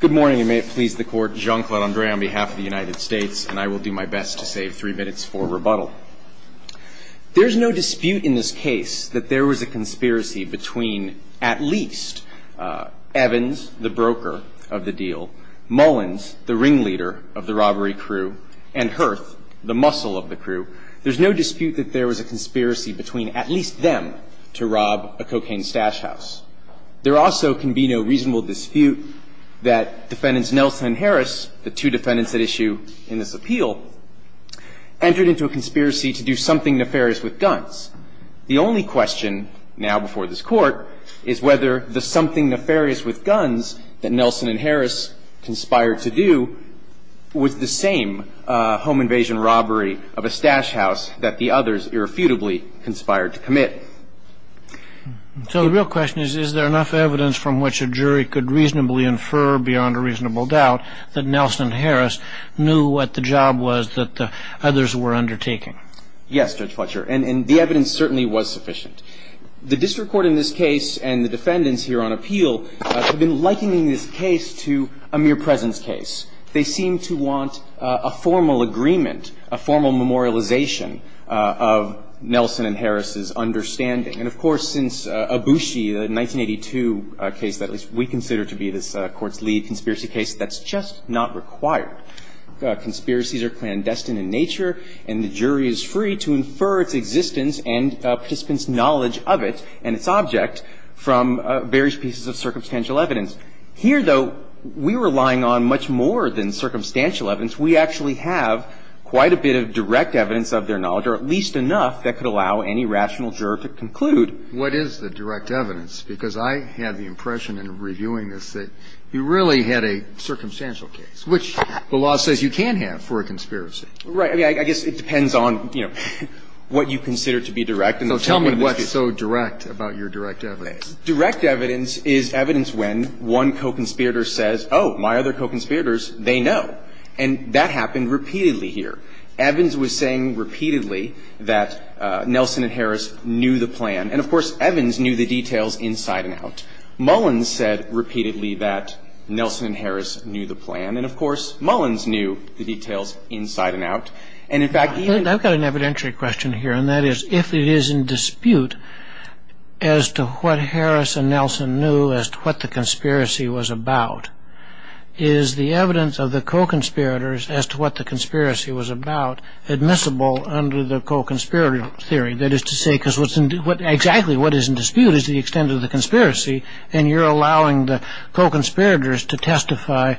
Good morning, and may it please the Court, Jean-Claude André on behalf of the United States, and I will do my best to save three minutes for rebuttal. There's no dispute in this case that there was a conspiracy between at least Evans, the broker of the deal, Mullins, the ringleader of the robbery crew, and Hurth, the muscle of the crew. There's no dispute that there was a conspiracy between at least them to rob a cocaine stash house. There also can be no reasonable dispute that Defendants Nelson and Harris, the two defendants at issue in this appeal, entered into a conspiracy to do something nefarious with guns. The only question now before this Court is whether the something nefarious with guns that Nelson and Harris conspired to do was the same home invasion robbery of a stash house that the others irrefutably conspired to commit. So the real question is, is there enough evidence from which a jury could reasonably infer beyond a reasonable doubt that Nelson and Harris knew what the job was that the others were undertaking? Yes, Judge Fletcher, and the evidence certainly was sufficient. The district court in this case and the defendants here on appeal have been likening this case to a mere presence case. They seem to want a formal agreement, a formal memorialization of Nelson and Harris' understanding And of course, since Abusi, the 1982 case that we consider to be this Court's lead conspiracy case, that's just not required. Conspiracies are clandestine in nature, and the jury is free to infer its existence and participants' knowledge of it and its object from various pieces of circumstantial evidence. Here, though, we were relying on much more than circumstantial evidence. We actually have quite a bit of direct evidence of their knowledge, or at least enough that could allow any rational juror to conclude. What is the direct evidence? Because I had the impression in reviewing this that you really had a circumstantial case, which the law says you can have for a conspiracy. Right. I mean, I guess it depends on, you know, what you consider to be direct and what's so direct about your direct evidence. Direct evidence is evidence when one co-conspirator says, oh, my other co-conspirators, they know. And that happened repeatedly here. Evans was saying repeatedly that Nelson and Harris knew the plan. And, of course, Evans knew the details inside and out. Mullins said repeatedly that Nelson and Harris knew the plan. And, of course, Mullins knew the details inside and out. And, in fact, he even – I've got an evidentiary question here, and that is, if it is in dispute as to what Harris and Nelson knew as to what the conspiracy was about, is the evidence of the co-conspirators as to what the conspiracy was about admissible under the co-conspirator theory? That is to say, because what's in – exactly what is in dispute is the extent of the conspiracy, and you're allowing the co-conspirators to testify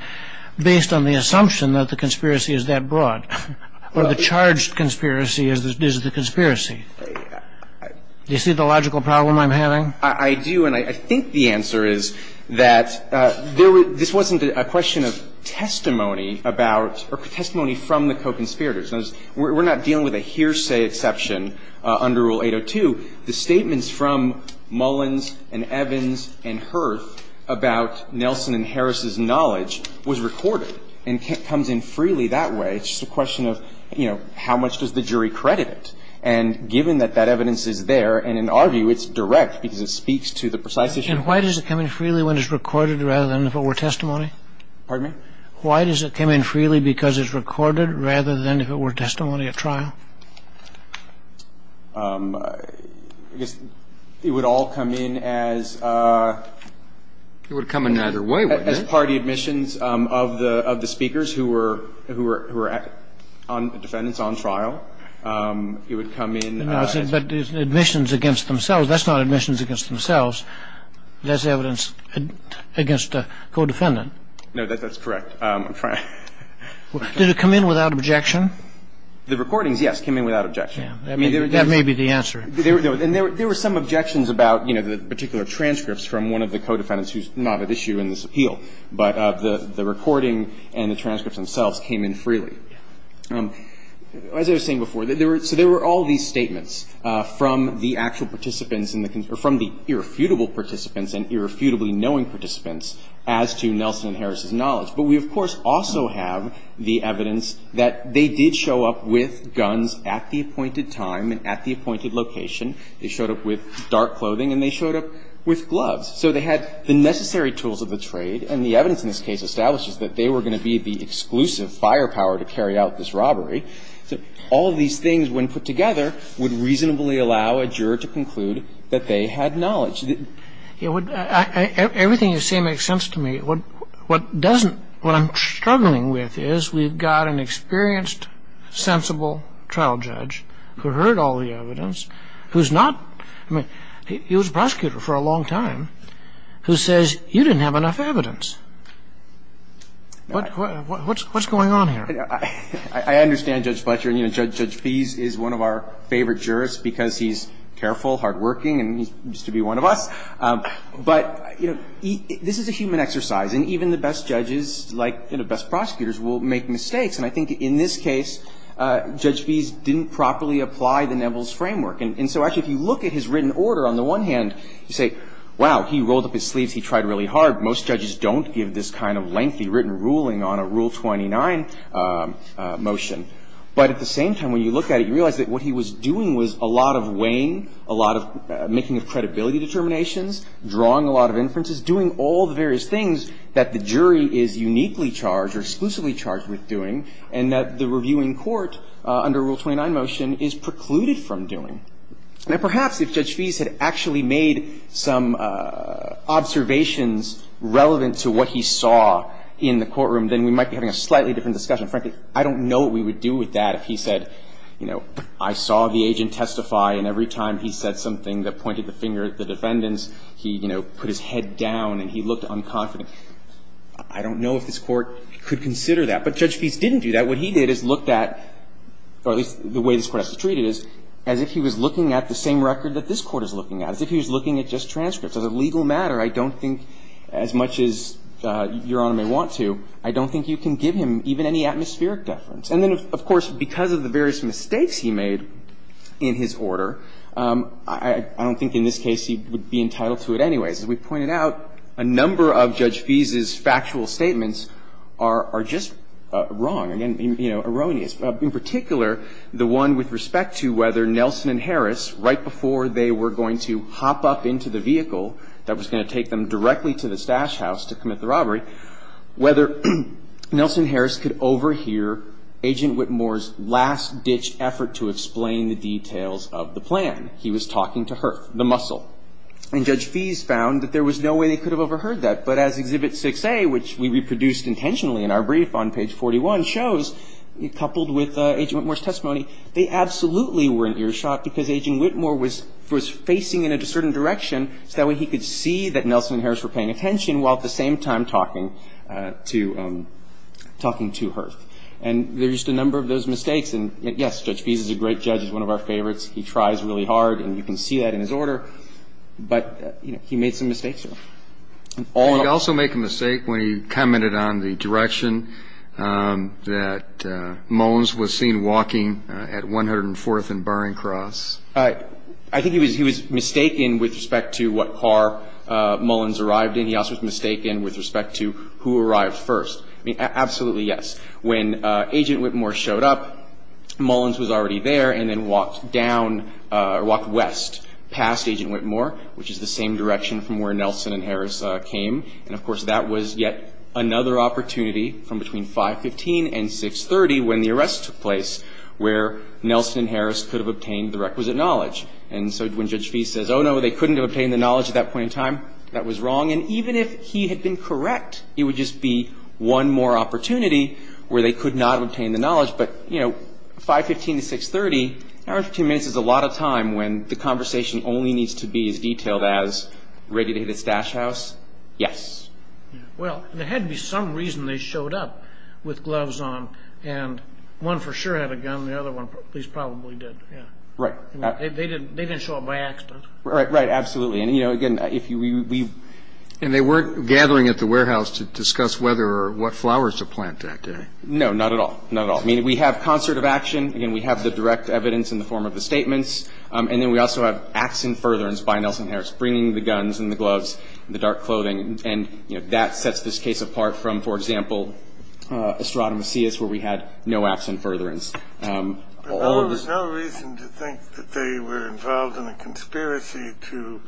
based on the assumption that the conspiracy is that broad, or the charged conspiracy is the conspiracy. Do you see the logical problem I'm having? I do, and I think the answer is that there – this wasn't a question of testimony about – or testimony from the co-conspirators. We're not dealing with a hearsay exception under Rule 802. The statements from Mullins and Evans and Hurth about Nelson and Harris's knowledge was recorded and comes in freely that way. It's just a question of, you know, how much does the jury credit it? And given that that evidence is there, and in our view, it's direct because it speaks to the precise issue. And why does it come in freely when it's recorded rather than if it were testimony? Pardon me? Why does it come in freely because it's recorded rather than if it were testimony at trial? I guess it would all come in as – It would come in either way, wouldn't it? As party admissions of the speakers who were – who were defendants on trial. It would come in – But admissions against themselves. That's not admissions against themselves. That's evidence against a co-defendant. No, that's correct. Did it come in without objection? The recordings, yes, came in without objection. That may be the answer. And there were some objections about, you know, the particular transcripts from one of the co-defendants who's not at issue in this appeal. But the recording and the transcripts themselves came in freely. As I was saying before, there were – so there were all these statements from the actual participants in the – or from the irrefutable participants and irrefutably knowing participants as to Nelson and Harris' knowledge. But we, of course, also have the evidence that they did show up with guns at the appointed time and at the appointed location. They showed up with dark clothing and they showed up with gloves. So they had the necessary tools of the trade. And the evidence in this case establishes that they were going to be the exclusive firepower to carry out this robbery. So all these things, when put together, would reasonably allow a juror to conclude that they had knowledge. Yes. Everything you say makes sense to me. What doesn't. What I'm struggling with is we've got an experienced, sensible child judge who heard all the evidence, who is not – he was a prosecutor for a long time who says he didn't have enough evidence. What's going on here? I understand Judge Fletcher. You know, Judge Feese is one of our favorite jurists because he's careful, hardworking, and he used to be one of us. But, you know, this is a human exercise. And even the best judges, like, you know, best prosecutors will make mistakes. And I think in this case, Judge Feese didn't properly apply the Neville's framework. And so, actually, if you look at his written order, on the one hand, you say, wow, he rolled up his sleeves. He tried really hard. Most judges don't give this kind of lengthy written ruling on a Rule 29 motion. But at the same time, when you look at it, you realize that what he was doing was a lot of weighing, a lot of making of credibility determinations, drawing a lot of inferences, doing all the various things that the jury is uniquely charged or exclusively charged with doing, and that the reviewing court under Rule 29 motion is precluded from doing. Now, perhaps if Judge Feese had actually made some observations relevant to what he saw in the courtroom, then we might be having a slightly different discussion. Frankly, I don't know what we would do with that if he said, you know, I saw the agent testify, and every time he said something that pointed the finger at the defendants, he, you know, put his head down and he looked unconfident. I don't know if this Court could consider that. But Judge Feese didn't do that. What he did is look at, or at least the way this Court has to treat it, is as if he was looking at the same record that this Court is looking at, as if he was looking at just transcripts. As a legal matter, I don't think, as much as Your Honor may want to, I don't think you can give him even any atmospheric deference. And then, of course, because of the various mistakes he made in his order, I don't think in this case he would be entitled to it anyways. As we pointed out, a number of Judge Feese's factual statements are just wrong, again, you know, erroneous. In particular, the one with respect to whether Nelson and Harris, right before they were going to hop up into the vehicle that was going to take them directly to the stash agent Whitmore's last-ditch effort to explain the details of the plan. He was talking to Hurth, the muscle. And Judge Feese found that there was no way they could have overheard that. But as Exhibit 6A, which we reproduced intentionally in our brief on page 41, shows, coupled with Agent Whitmore's testimony, they absolutely were in earshot because Agent Whitmore was facing in a certain direction, so that way he could see that Nelson and Harris were paying attention while at the same time talking to Hurth. And there's just a number of those mistakes. And, yes, Judge Feese is a great judge. He's one of our favorites. He tries really hard, and you can see that in his order, but, you know, he made some mistakes there. And all in all… Did he also make a mistake when he commented on the direction that Mullins was seen walking at 104th and Barring Cross? I think he was mistaken with respect to what car Mullins arrived in. He also was mistaken with respect to who arrived first. I mean, absolutely yes. When Agent Whitmore showed up, Mullins was already there and then walked down or walked west past Agent Whitmore, which is the same direction from where Nelson and Harris came. And, of course, that was yet another opportunity from between 515 and 630 when the arrest took place where Nelson and Harris could have obtained the requisite knowledge. And so when Judge Feese says, oh, no, they couldn't have obtained the knowledge at that point in time, that was wrong. And even if he had been correct, it would just be one more opportunity where they could not have obtained the knowledge. But, you know, 515 to 630, an hour and 15 minutes is a lot of time when the conversation only needs to be as detailed as, ready to hit his stash house? Yes. Well, there had to be some reason they showed up with gloves on. And one for sure had a gun, the other one at least probably did, yeah. Right. They didn't show up by accident. Right, right, absolutely. And, you know, again, if you, we, we. And they weren't gathering at the warehouse to discuss whether or what flowers to plant that day. No, not at all, not at all. I mean, we have concert of action. Again, we have the direct evidence in the form of the statements. And then we also have acts in furtherance by Nelson Harris, bringing the guns and the gloves and the dark clothing. And, you know, that sets this case apart from, for example, Estrada Macias, where we had no acts in furtherance. There was no reason to think that they were involved in a conspiracy to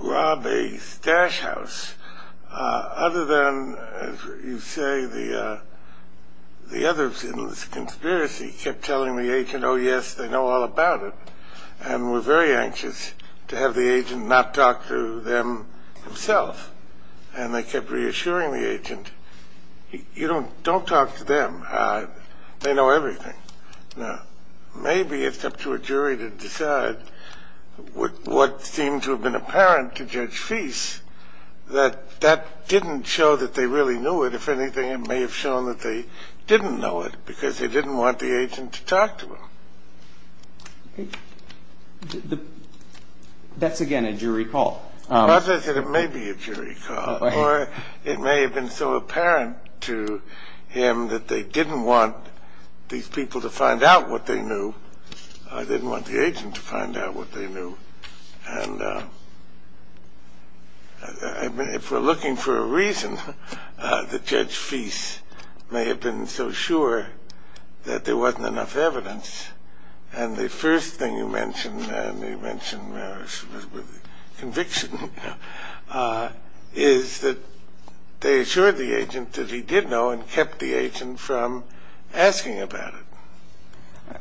rob a stash house, other than, as you say, the others in this conspiracy kept telling the agent, oh yes, they know all about it. And were very anxious to have the agent not talk to them himself. And they kept reassuring the agent, you don't, don't talk to them. They know everything. Now, maybe it's up to a jury to decide what seemed to have been apparent to Judge Fease, that that didn't show that they really knew it. If anything, it may have shown that they didn't know it, because they didn't want the agent to talk to them. That's again a jury call. As I said, it may be a jury call, or it may have been so that they didn't want these people to find out what they knew. They didn't want the agent to find out what they knew. And if we're looking for a reason, the Judge Fease may have been so sure that there wasn't enough evidence. And the first thing you mentioned, and you mentioned conviction, is that they assured the agent that he did know and kept the agent from asking about it.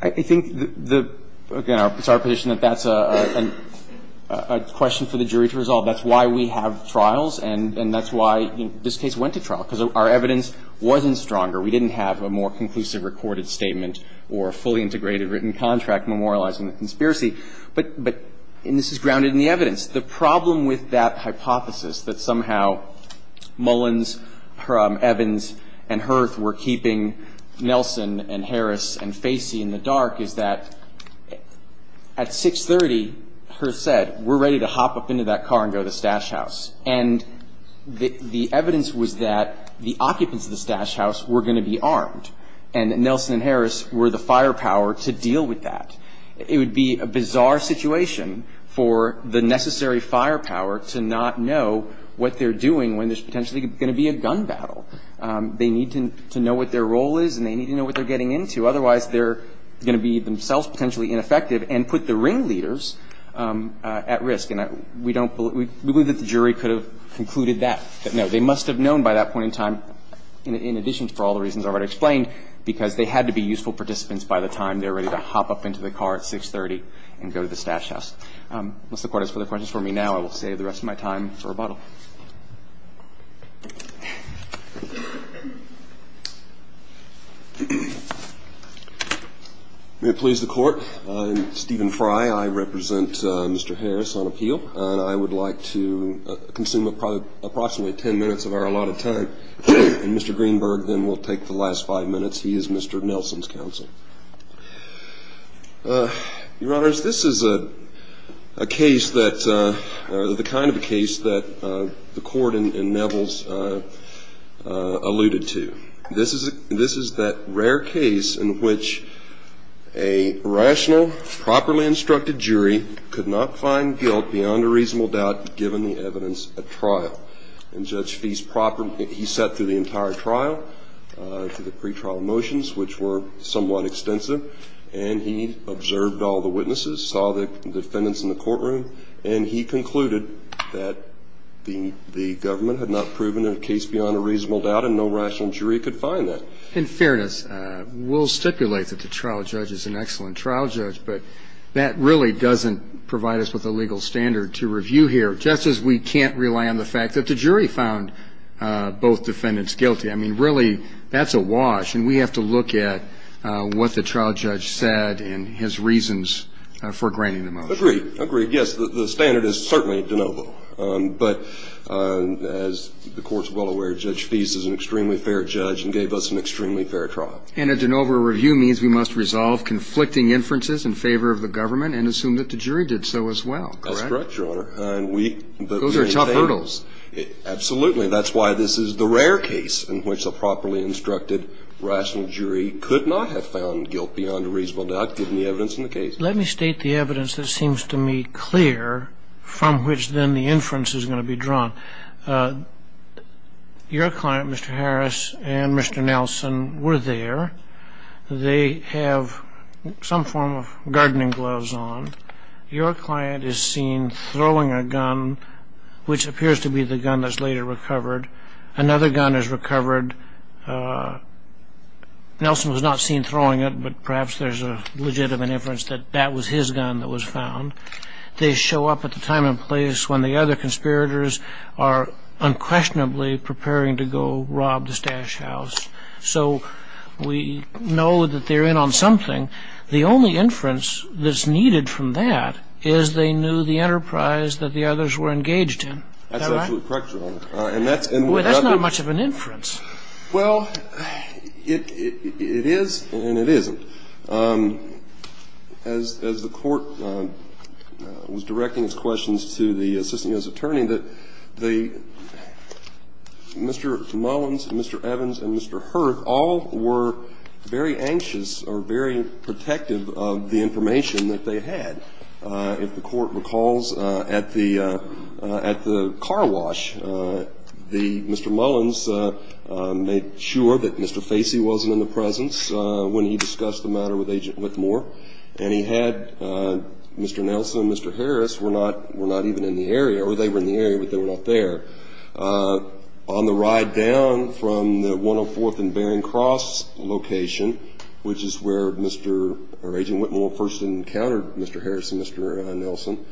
I think that, again, it's our position that that's a question for the jury to resolve. That's why we have trials, and that's why this case went to trial, because our evidence wasn't stronger. We didn't have a more conclusive recorded statement or a fully integrated written contract memorializing the conspiracy. But, and this is grounded in the evidence. The problem with that hypothesis, that somehow Mullins, Evans, and Hearth were keeping Nelson, and Harris, and Facey in the dark is that at 630, Hearth said, we're ready to hop up into that car and go to the stash house. And the evidence was that the occupants of the stash house were going to be armed. And Nelson and Harris were the firepower to deal with that. It would be a bizarre situation for the necessary firepower to not know what they're doing when there's potentially going to be a gun battle. They need to know what their role is, and they need to know what they're getting into. Otherwise, they're going to be themselves potentially ineffective and put the ringleaders at risk. And we believe that the jury could have concluded that. But no, they must have known by that point in time, in addition to all the reasons already explained, because they had to be useful participants by the time they were ready to hop up into the car at 630 and go to the stash house. Unless the court has further questions for me now, I will save the rest of my time for rebuttal. May it please the court. I'm Stephen Fry. I represent Mr. Harris on appeal. And I would like to consume approximately ten minutes of our allotted time. And Mr. Greenberg then will take the last five minutes. He is Mr. Nelson's counsel. Your honors, this is a case that, or the kind of a case that the court in Nevels alluded to. This is that rare case in which a rational, properly instructed jury could not find guilt beyond a reasonable doubt, given the evidence at trial. And Judge Feist, he sat through the entire trial, through the pre-trial motions, which were somewhat extensive. And he observed all the witnesses, saw the defendants in the courtroom. And he concluded that the government had not proven a case beyond a reasonable doubt, and no rational jury could find that. In fairness, we'll stipulate that the trial judge is an excellent trial judge. But that really doesn't provide us with a legal standard to review here, just as we can't rely on the fact that the jury found both defendants guilty. I mean, really, that's a wash. And we have to look at what the trial judge said and his reasons for granting the motion. Agreed. Agreed. Yes, the standard is certainly de novo. But as the court's well aware, Judge Feist is an extremely fair judge and gave us an extremely fair trial. And a de novo review means we must resolve conflicting inferences in favor of the government and assume that the jury did so as well, correct? That's correct, your honor. Those are tough hurdles. Absolutely. That's why this is the rare case in which a properly instructed rational jury could not have found guilt beyond a reasonable doubt, given the evidence in the case. Let me state the evidence that seems to me clear from which then the inference is going to be drawn. Your client, Mr. Harris, and Mr. Nelson were there. They have some form of gardening gloves on. Your client is seen throwing a gun, which appears to be the gun that's later recovered. Another gun is recovered. Nelson was not seen throwing it, but perhaps there's a legitimate inference that that was his gun that was found. They show up at the time and place when the other conspirators are unquestionably preparing to go rob the Stash House. So we know that they're in on something. The only inference that's needed from that is they knew the enterprise that the others were engaged in. Is that right? That's absolutely correct, your honor. And that's, and we've got the Boy, that's not much of an inference. Well, it is and it isn't. As the Court was directing its questions to the Assistant U.S. Attorney, that the, Mr. Mullins and Mr. Evans and Mr. Hurth, all were very anxious or very protective of the information that they had. If the Court recalls at the car wash, Mr. Mullins made sure that Mr. Facey wasn't in the presence when he discussed the matter with Agent Whitmore, and he had Mr. Nelson and Mr. Harris were not even in the area, or they were in the area, but they were not there. On the ride down from the 104th and Bering Cross location, which is where Mr., or Agent Whitmore first encountered Mr. Harris and Mr. Nelson,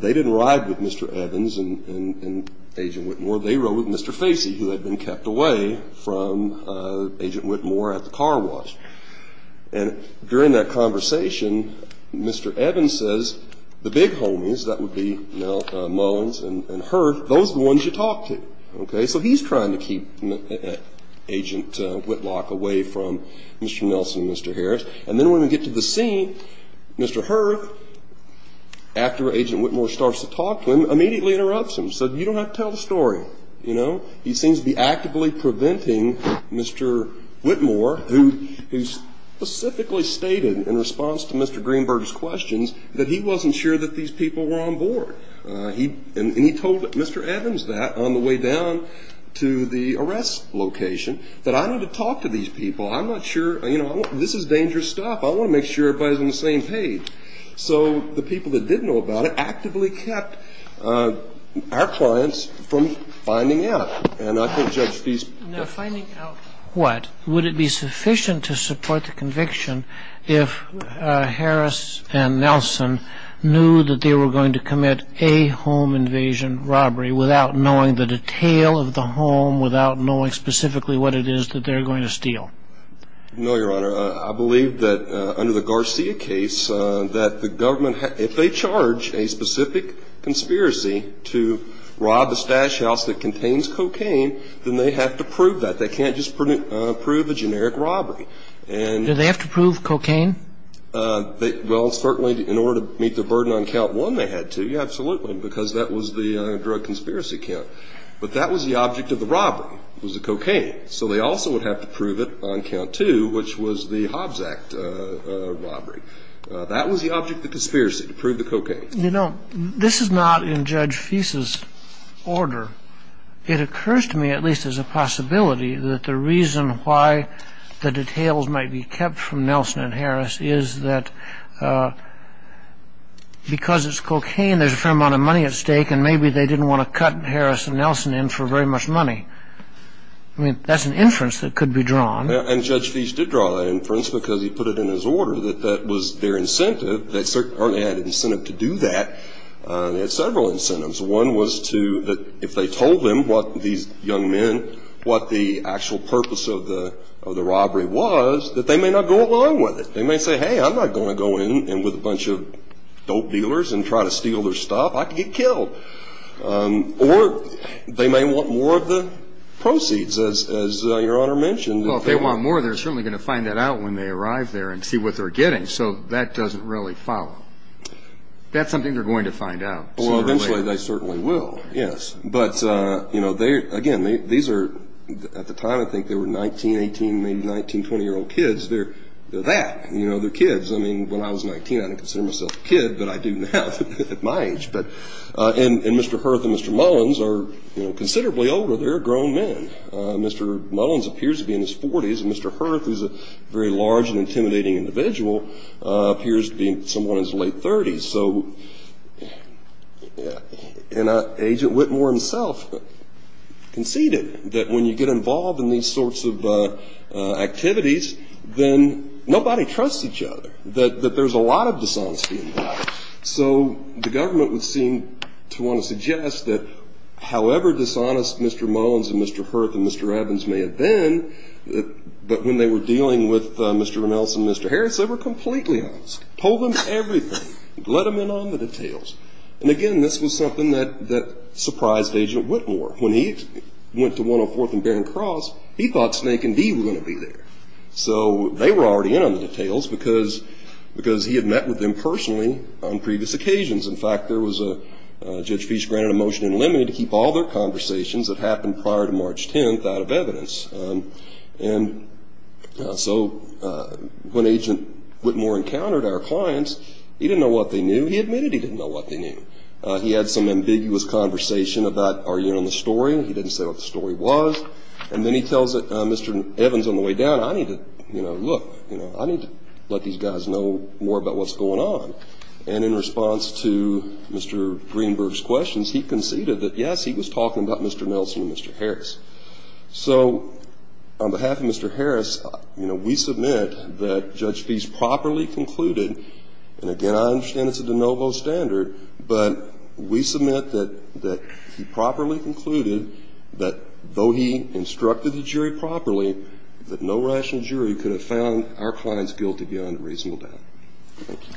they didn't ride with Mr. Evans and Agent Whitmore. They rode with Mr. Facey, who had been kept away from Agent Whitmore at the car wash. And during that conversation, Mr. Evans says, the big homies, that would be, you know, Mullins and Hurth, those are the ones you talk to. Okay, so he's trying to keep Agent Whitlock away from Mr. Nelson and Mr. Harris. And then when we get to the scene, Mr. Hurth, after Agent Whitmore starts to talk to him, immediately interrupts him, said, you don't have to tell the story, you know. He seems to be actively preventing Mr. Whitmore, who specifically stated, in response to Mr. Greenberg's questions, that he wasn't sure that these people were on board. He, and he told Mr. Evans that on the way down to the arrest location, that I need to talk to these people. I'm not sure, you know, this is dangerous stuff. I want to make sure everybody's on the same page. So the people that did know about it actively kept our clients from finding out. And I think Judge Feist... Now, finding out what? Would it be sufficient to support the conviction if Harris and Nelson knew that they were going to commit a home invasion robbery without knowing the detail of the home, without knowing specifically what it is that they're going to steal? No, Your Honor. I believe that under the Garcia case, that the government, if they charge a specific conspiracy to rob a stash house that contains cocaine, then they have to prove that. They can't just prove a generic robbery. Do they have to prove cocaine? Well, certainly in order to meet the burden on count one, they had to, absolutely, because that was the drug conspiracy count. But that was the object of the robbery, was the cocaine. So they also would have to prove it on count two, which was the Hobbs Act robbery. That was the object of the conspiracy, to prove the cocaine. You know, this is not in Judge Feist's order. It occurs to me, at least as a possibility, that the reason why the details might be kept from Nelson and Harris is that because it's cocaine, there's a fair amount of money at stake and maybe they didn't want to cut Harris and Nelson in for very much money. I mean, that's an inference that could be drawn. And Judge Feist did draw that inference because he put it in his order that that was their incentive. They certainly had an incentive to do that. They had several incentives. One was to, if they told them, these young men, what the actual purpose of the robbery was, that they may not go along with it. They may say, hey, I'm not going to go in with a bunch of dope dealers and try to steal their stuff. I could get killed. Or they may want more of the proceeds, as Your Honor mentioned. Well, if they want more, they're certainly going to find that out when they arrive there and see what they're getting. So that doesn't really follow. That's something they're going to find out. Well, eventually they certainly will, yes. But again, at the time, I think they were 19, 18, maybe 19, 20-year-old kids. They're that. They're kids. I mean, when I was 19, I didn't consider myself a kid, but I do now at my age. And Mr. Hurth and Mr. Mullins are considerably older. They're grown men. Mr. Mullins appears to be in his 40s. And Mr. Hurth, who's a very large and intimidating individual, appears to be someone in his late 30s. So Agent Whitmore himself conceded that when you get involved in these sorts of activities, then nobody trusts each other, that there's a lot of dishonesty involved. So the government would seem to want to suggest that however dishonest Mr. Mullins and Mr. Hurth and Mr. Evans may have been, that when they were dealing with Mr. Ramos and Mr. Harris, they were completely honest. Told them everything. Let them in on the details. And again, this was something that surprised Agent Whitmore. When he went to 104th and Bear and Cross, he thought Snake and Dee were going to be there. So they were already in on the details because he had met with them personally on previous occasions. In fact, there was a judge who granted a motion in limine to keep all their conversations that happened prior to March 10th out of evidence. And so when Agent Whitmore encountered our clients, he didn't know what they knew. He admitted he didn't know what they knew. He had some ambiguous conversation about, are you in on the story? He didn't say what the story was. And then he tells Mr. Evans on the way down, I need to look. I need to let these guys know more about what's going on. And in response to Mr. Greenberg's questions, he conceded that yes, he was talking about Mr. Nelson and Mr. Harris. So on behalf of Mr. Harris, we submit that Judge Feist properly concluded, and again, I understand it's a de novo standard, but we submit that he properly concluded that though he instructed the jury properly, that no rational jury could have found our clients guilty beyond a reasonable doubt. Thank you.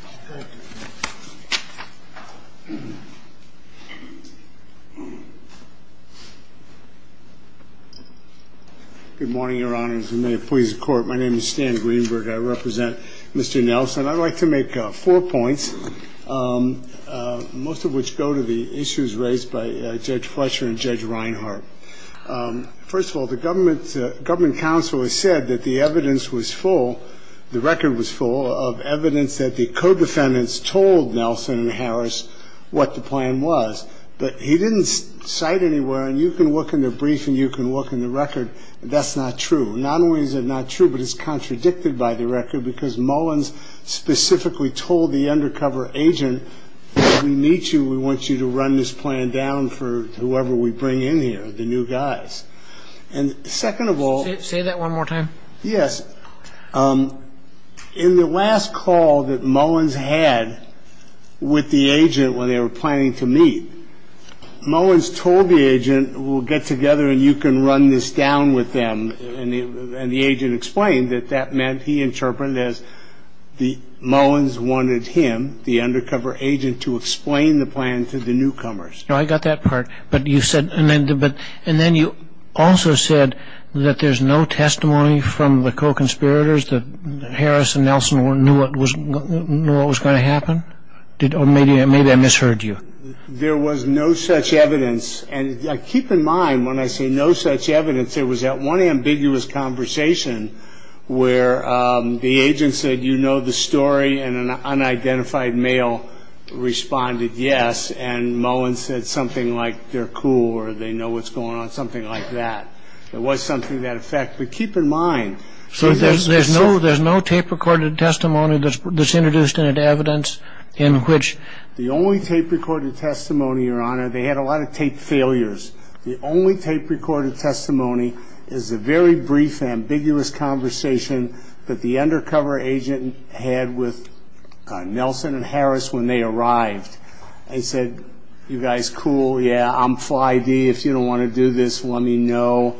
Good morning, Your Honors. And may it please the Court. My name is Stan Greenberg. I represent Mr. Nelson. I'd like to make four points, most of which go to the issues raised by Judge Fletcher and Judge Reinhart. First of all, the government counsel has said that the evidence was full, the record was full of evidence that the co-defendants told Nelson and Harris what the plan was. But he didn't cite anywhere, and you can look in the brief and you can look in the record, that's not true. Not only is it not true, but it's contradicted by the record because Mullins specifically told the undercover agent, we need you, we want you to run this plan down for whoever we bring in here, the new guys. And second of all... Say that one more time. Yes. In the last call that Mullins had with the agent when they were planning to meet, Mullins told the agent, we'll get together and you can run this down with them, and the agent explained that that meant he interpreted as Mullins wanted him, the undercover agent, to explain the plan to the newcomers. No, I got that part. But you said, and then you also said that there's no testimony from the co-conspirators that Harris and Nelson knew what was going to happen? Maybe I misheard you. There was no such evidence, and keep in mind when I say no such evidence, there was that one ambiguous conversation where the agent said, you know the story, and an unidentified male responded yes, and Mullins said something like they're cool or they know what's going on, something like that. There was something to that effect, but keep in mind... So there's no tape-recorded testimony that's introduced into evidence in which... The only tape-recorded testimony, Your Honor, they had a lot of tape failures. The only tape-recorded testimony is a very brief, ambiguous conversation that the undercover agent had with Nelson and Harris when they arrived. They said, you guys cool, yeah, I'm fly D. If you don't want to do this, let me know.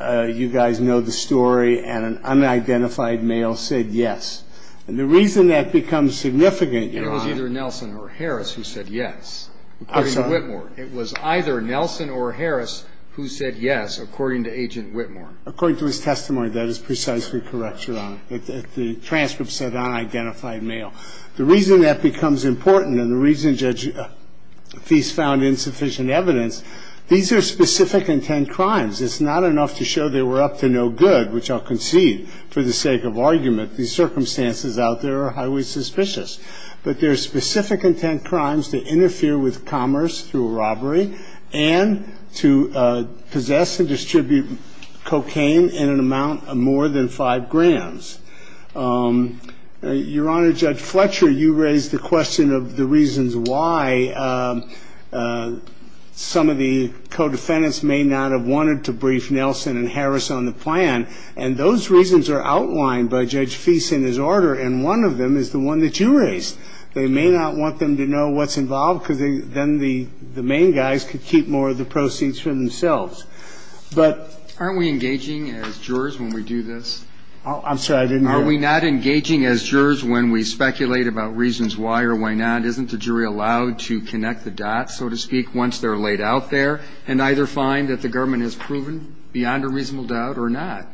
You guys know the story, and an unidentified male said yes. And the reason that becomes significant... It was either Nelson or Harris who said yes, according to Whitmore. It was either Nelson or Harris who said yes, according to Agent Whitmore. According to his testimony, that is precisely correct, Your Honor. The transcript said unidentified male. The reason that becomes important and the reason Judge Feist found insufficient evidence, these are specific intent crimes. It's not enough to show they were up to no good, which I'll concede for the sake of argument. These circumstances out there are highly suspicious. But they're specific intent crimes to interfere with commerce through a robbery and to possess and distribute cocaine in an amount of more than five grams. Your Honor, Judge Fletcher, you raised the question of the reasons why some of the co-defendants may not have wanted to brief Nelson and Harris on the plan. And those reasons are outlined by Judge Feist in his order. And one of them is the one that you raised. They may not want them to know what's involved, because then the main guys could keep more of the proceeds for themselves. But aren't we engaging as jurors when we do this? I'm sorry, I didn't hear. Are we not engaging as jurors when we speculate about reasons why or why not? Isn't the jury allowed to connect the dots, so to speak, once they're laid out there and either find that the government has proven beyond a reasonable doubt or not?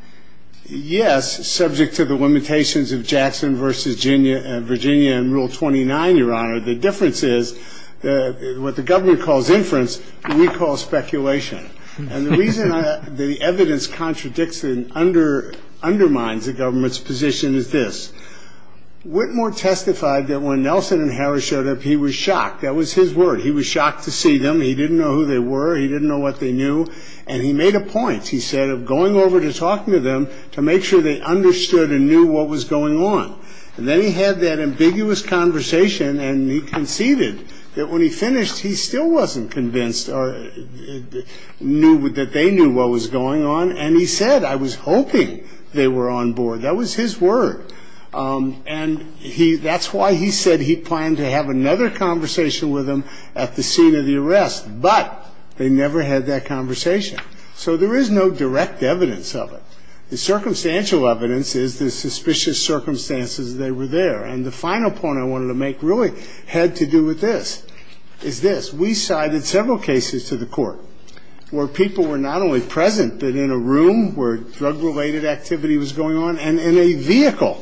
Yes, subject to the limitations of Jackson v. Virginia in Rule 29, Your Honor. The difference is what the government calls inference, we call speculation. And the reason the evidence contradicts and undermines the government's position is this. Whitmore testified that when Nelson and Harris showed up, he was shocked. That was his word. He was shocked to see them. He didn't know who they were. He didn't know what they knew. And he made a point, he said, of going over to talking to them to make sure they understood and knew what was going on. And then he had that ambiguous conversation, and he conceded that when he finished, he still wasn't convinced. Knew that they knew what was going on, and he said, I was hoping they were on board. That was his word. And that's why he said he planned to have another conversation with them at the scene of the arrest, but they never had that conversation. So there is no direct evidence of it. The circumstantial evidence is the suspicious circumstances that they were there. And the final point I wanted to make really had to do with this, is this. We cited several cases to the court where people were not only present, but in a room where drug-related activity was going on, and in a vehicle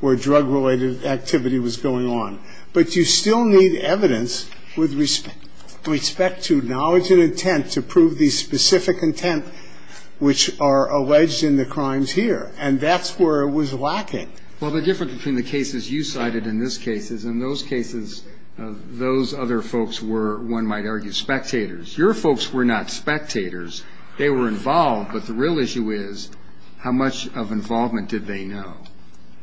where drug-related activity was going on. But you still need evidence with respect to knowledge and intent to prove the specific intent which are alleged in the crimes here. And that's where it was lacking. Well, the difference between the cases you cited and this case is, in those cases, those other folks were, one might argue, spectators. Your folks were not spectators. They were involved. But the real issue is, how much of involvement did they know,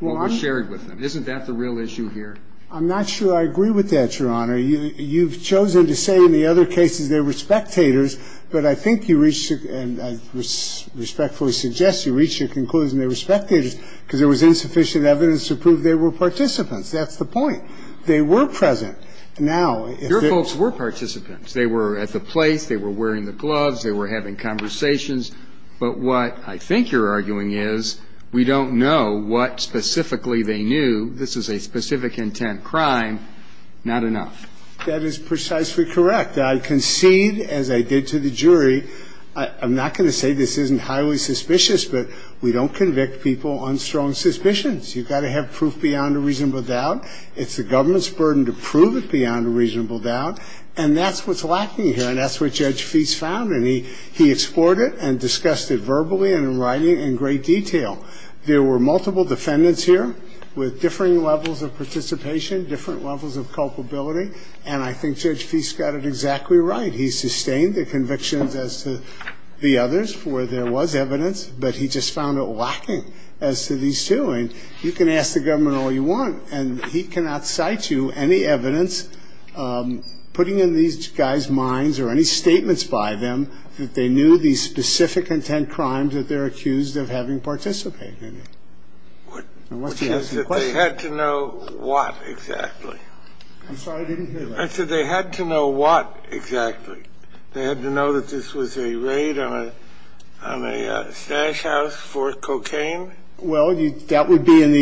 what was shared with them? Isn't that the real issue here? I'm not sure I agree with that, Your Honor. You've chosen to say in the other cases they were spectators. But I think you reached, and I respectfully suggest you reached your conclusion they were spectators because there was insufficient evidence to prove they were participants. That's the point. They were present. Now, if they're... Your folks were participants. They were at the place. They were wearing the gloves. They were having conversations. But what I think you're arguing is, we don't know what specifically they knew. This is a specific intent crime. Not enough. That is precisely correct. I concede, as I did to the jury, I'm not going to say this isn't highly suspicious, but we don't convict people on strong suspicions. You've got to have proof beyond a reasonable doubt. It's the government's burden to prove it beyond a reasonable doubt. And that's what's lacking here. And that's what Judge Feist found. And he explored it and discussed it verbally and in writing in great detail. There were multiple defendants here with differing levels of participation, different levels of culpability. And I think Judge Feist got it exactly right. He sustained the convictions as to the others where there was evidence. But he just found it lacking as to these two. And you can ask the government all you want. And he cannot cite you any evidence putting in these guys' minds or any statements by them that they knew these specific intent crimes that they're accused of having participated in. And what's the answer to the question? They had to know what exactly? I'm sorry, I didn't hear that. I said they had to know what exactly. They had to know that this was a raid on a stash house for cocaine? Well, that would be in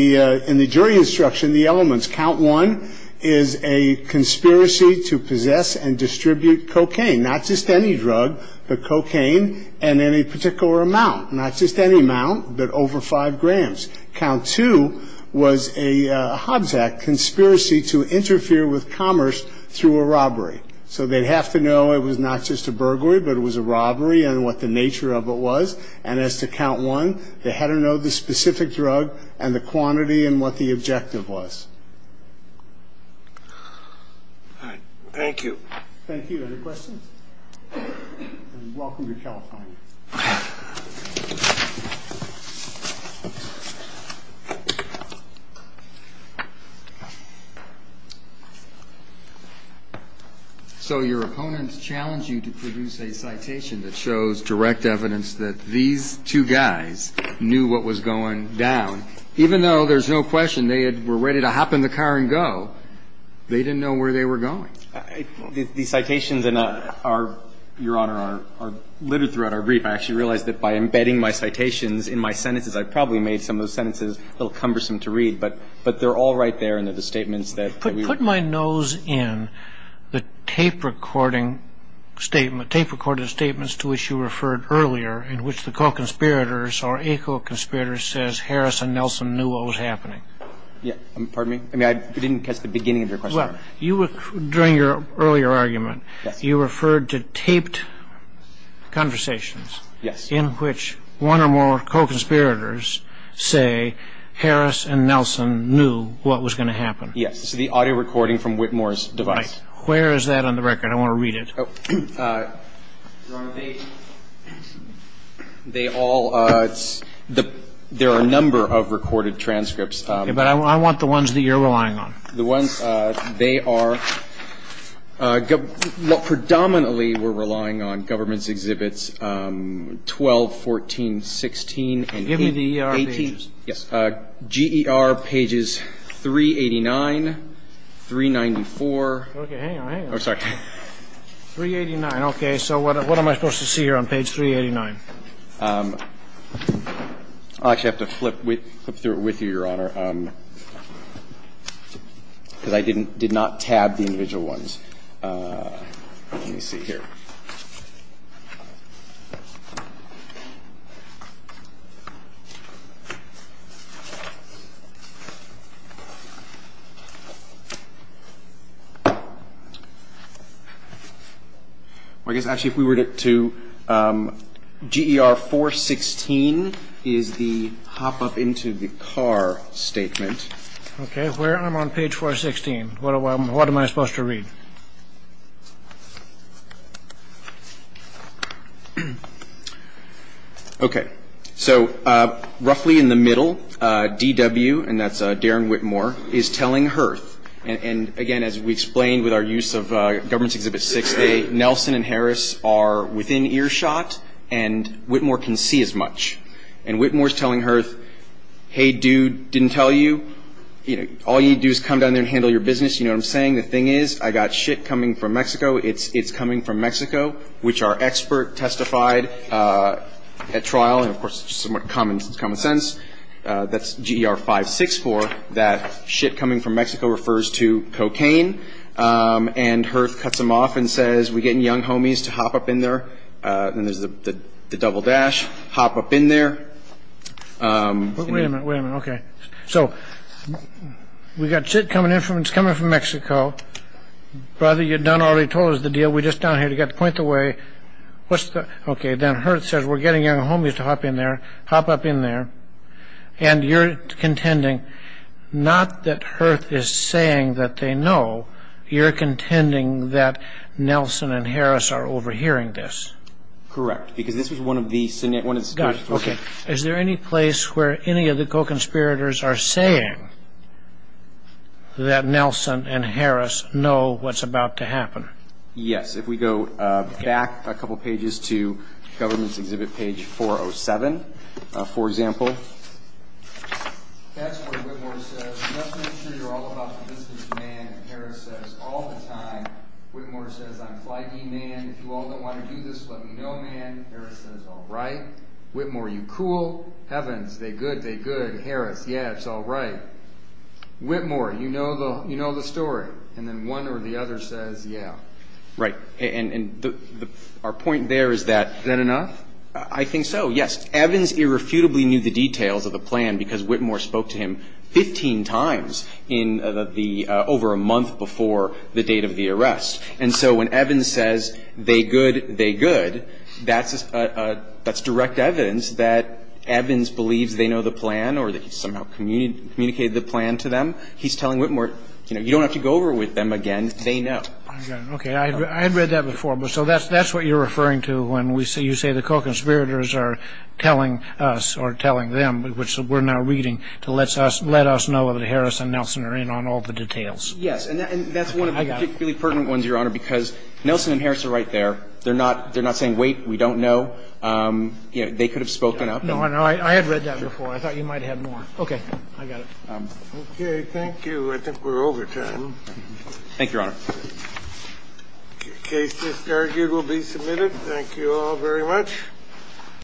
the jury instruction, the elements. Count 1 is a conspiracy to possess and distribute cocaine, not just any drug, but cocaine and in a particular amount, not just any amount, but over 5 grams. Count 2 was a Hobbs Act conspiracy to interfere with commerce through a robbery. So they'd have to know it was not just a burglary, but it was a robbery and what the nature of it was. And as to Count 1, they had to know the specific drug and the quantity and what the objective was. All right. Thank you. Thank you. Any questions? Welcome to California. So your opponents challenge you to produce a citation that shows direct evidence that these two guys knew what was going down, even though there's no question they were ready to hop in the car and go. They didn't know where they were going. These citations, Your Honor, are littered throughout our brief. I actually realized that by embedding my citations in my sentences, I probably made some of those sentences a little cumbersome to read, but they're all right there in the statements that we were- Put my nose in the tape recording statement, tape recorded statements to which you referred earlier, in which the co-conspirators or a co-conspirator says Harris and Nelson knew what was happening. Yeah. Pardon me? I mean, I didn't catch the beginning of your question. Well, during your earlier argument, you referred to taped conversations. Yes. In which one or more co-conspirators say Harris and Nelson knew what was going to happen. Yes. So the audio recording from Whitmore's device. Where is that on the record? I want to read it. Your Honor, they all, it's, there are a number of recorded transcripts. Yeah, but I want the ones that you're relying on. The ones, they are, what predominantly we're relying on, government's exhibits 12, 14, 16, and 18. Give me the E.R. pages. Yes. G.E.R. pages 389, 394. Okay, hang on, hang on. Oh, sorry. 389. So what am I supposed to see here on page 389? I'll actually have to flip through it with you, Your Honor, because I didn't, did not tab the individual ones. Let me see here. I guess actually if we were to, G.E.R. 416 is the hop up into the car statement. Okay, where I'm on page 416, what am I supposed to read? Okay, so roughly in the middle, D.W., and that's Darren Whitmore, is telling Herth, and again, as we explained with our use of government's exhibit 6A, Nelson and Harris are within earshot, and Whitmore can see as much. And Whitmore's telling Herth, hey, dude, didn't tell you, you know, all you need to do is come down there and handle your business. You know what I'm saying? The thing is, I got shit coming from Mexico. It's coming from Mexico, which our expert testified at trial, and of course it's somewhat common sense, that's G.E.R. 564, that shit coming from Mexico refers to cocaine, and Herth cuts him off and says, we're getting young homies to hop up in there. Then there's the double dash, hop up in there. Wait a minute, wait a minute. Okay, so we got shit coming in from Mexico. Brother, you'd done already told us the deal. We're just down here to get the point the way. What's the, okay, then Herth says, we're getting young homies to hop in there, hop up in there, and you're contending. Not that Herth is saying that they know. You're contending that Nelson and Harris are overhearing this. Correct, because this was one of the scenarios, one of the scenarios. Okay, is there any place where any of the co-conspirators are saying that Nelson and Harris know what's about to happen? Yes, if we go back a couple pages to government's exhibit page 407, for example. That's where Whitmore says, you have to make sure you're all about the business, man. Harris says, all the time. Whitmore says, I'm flighty, man. If you all don't want to do this, let me know, man. Harris says, all right. Whitmore, you cool. Evans, they good, they good. Harris, yeah, it's all right. Whitmore, you know the story. And then one or the other says, yeah. Right, and our point there is that. Is that enough? I think so, yes. Evans irrefutably knew the details of the plan because Whitmore spoke to him 15 times over a month before the date of the arrest. And so when Evans says, they good, they good, that's direct evidence that Evans believes they know the plan or that he somehow communicated the plan to them. He's telling Whitmore, you don't have to go over with them again. They know. Okay, I had read that before. So that's what you're referring to when you say the co-conspirators are telling us or telling them, which we're now reading, to let us know that Harris and Nelson are in on all the details. Yes, and that's one of the particularly pertinent ones, Your Honor, because Nelson and Harris are right there. They're not saying, wait, we don't know. They could have spoken up. No, I had read that before. I thought you might have more. Okay, I got it. Okay, thank you. I think we're over time. Thank you, Your Honor. The case is argued will be submitted. Thank you all very much.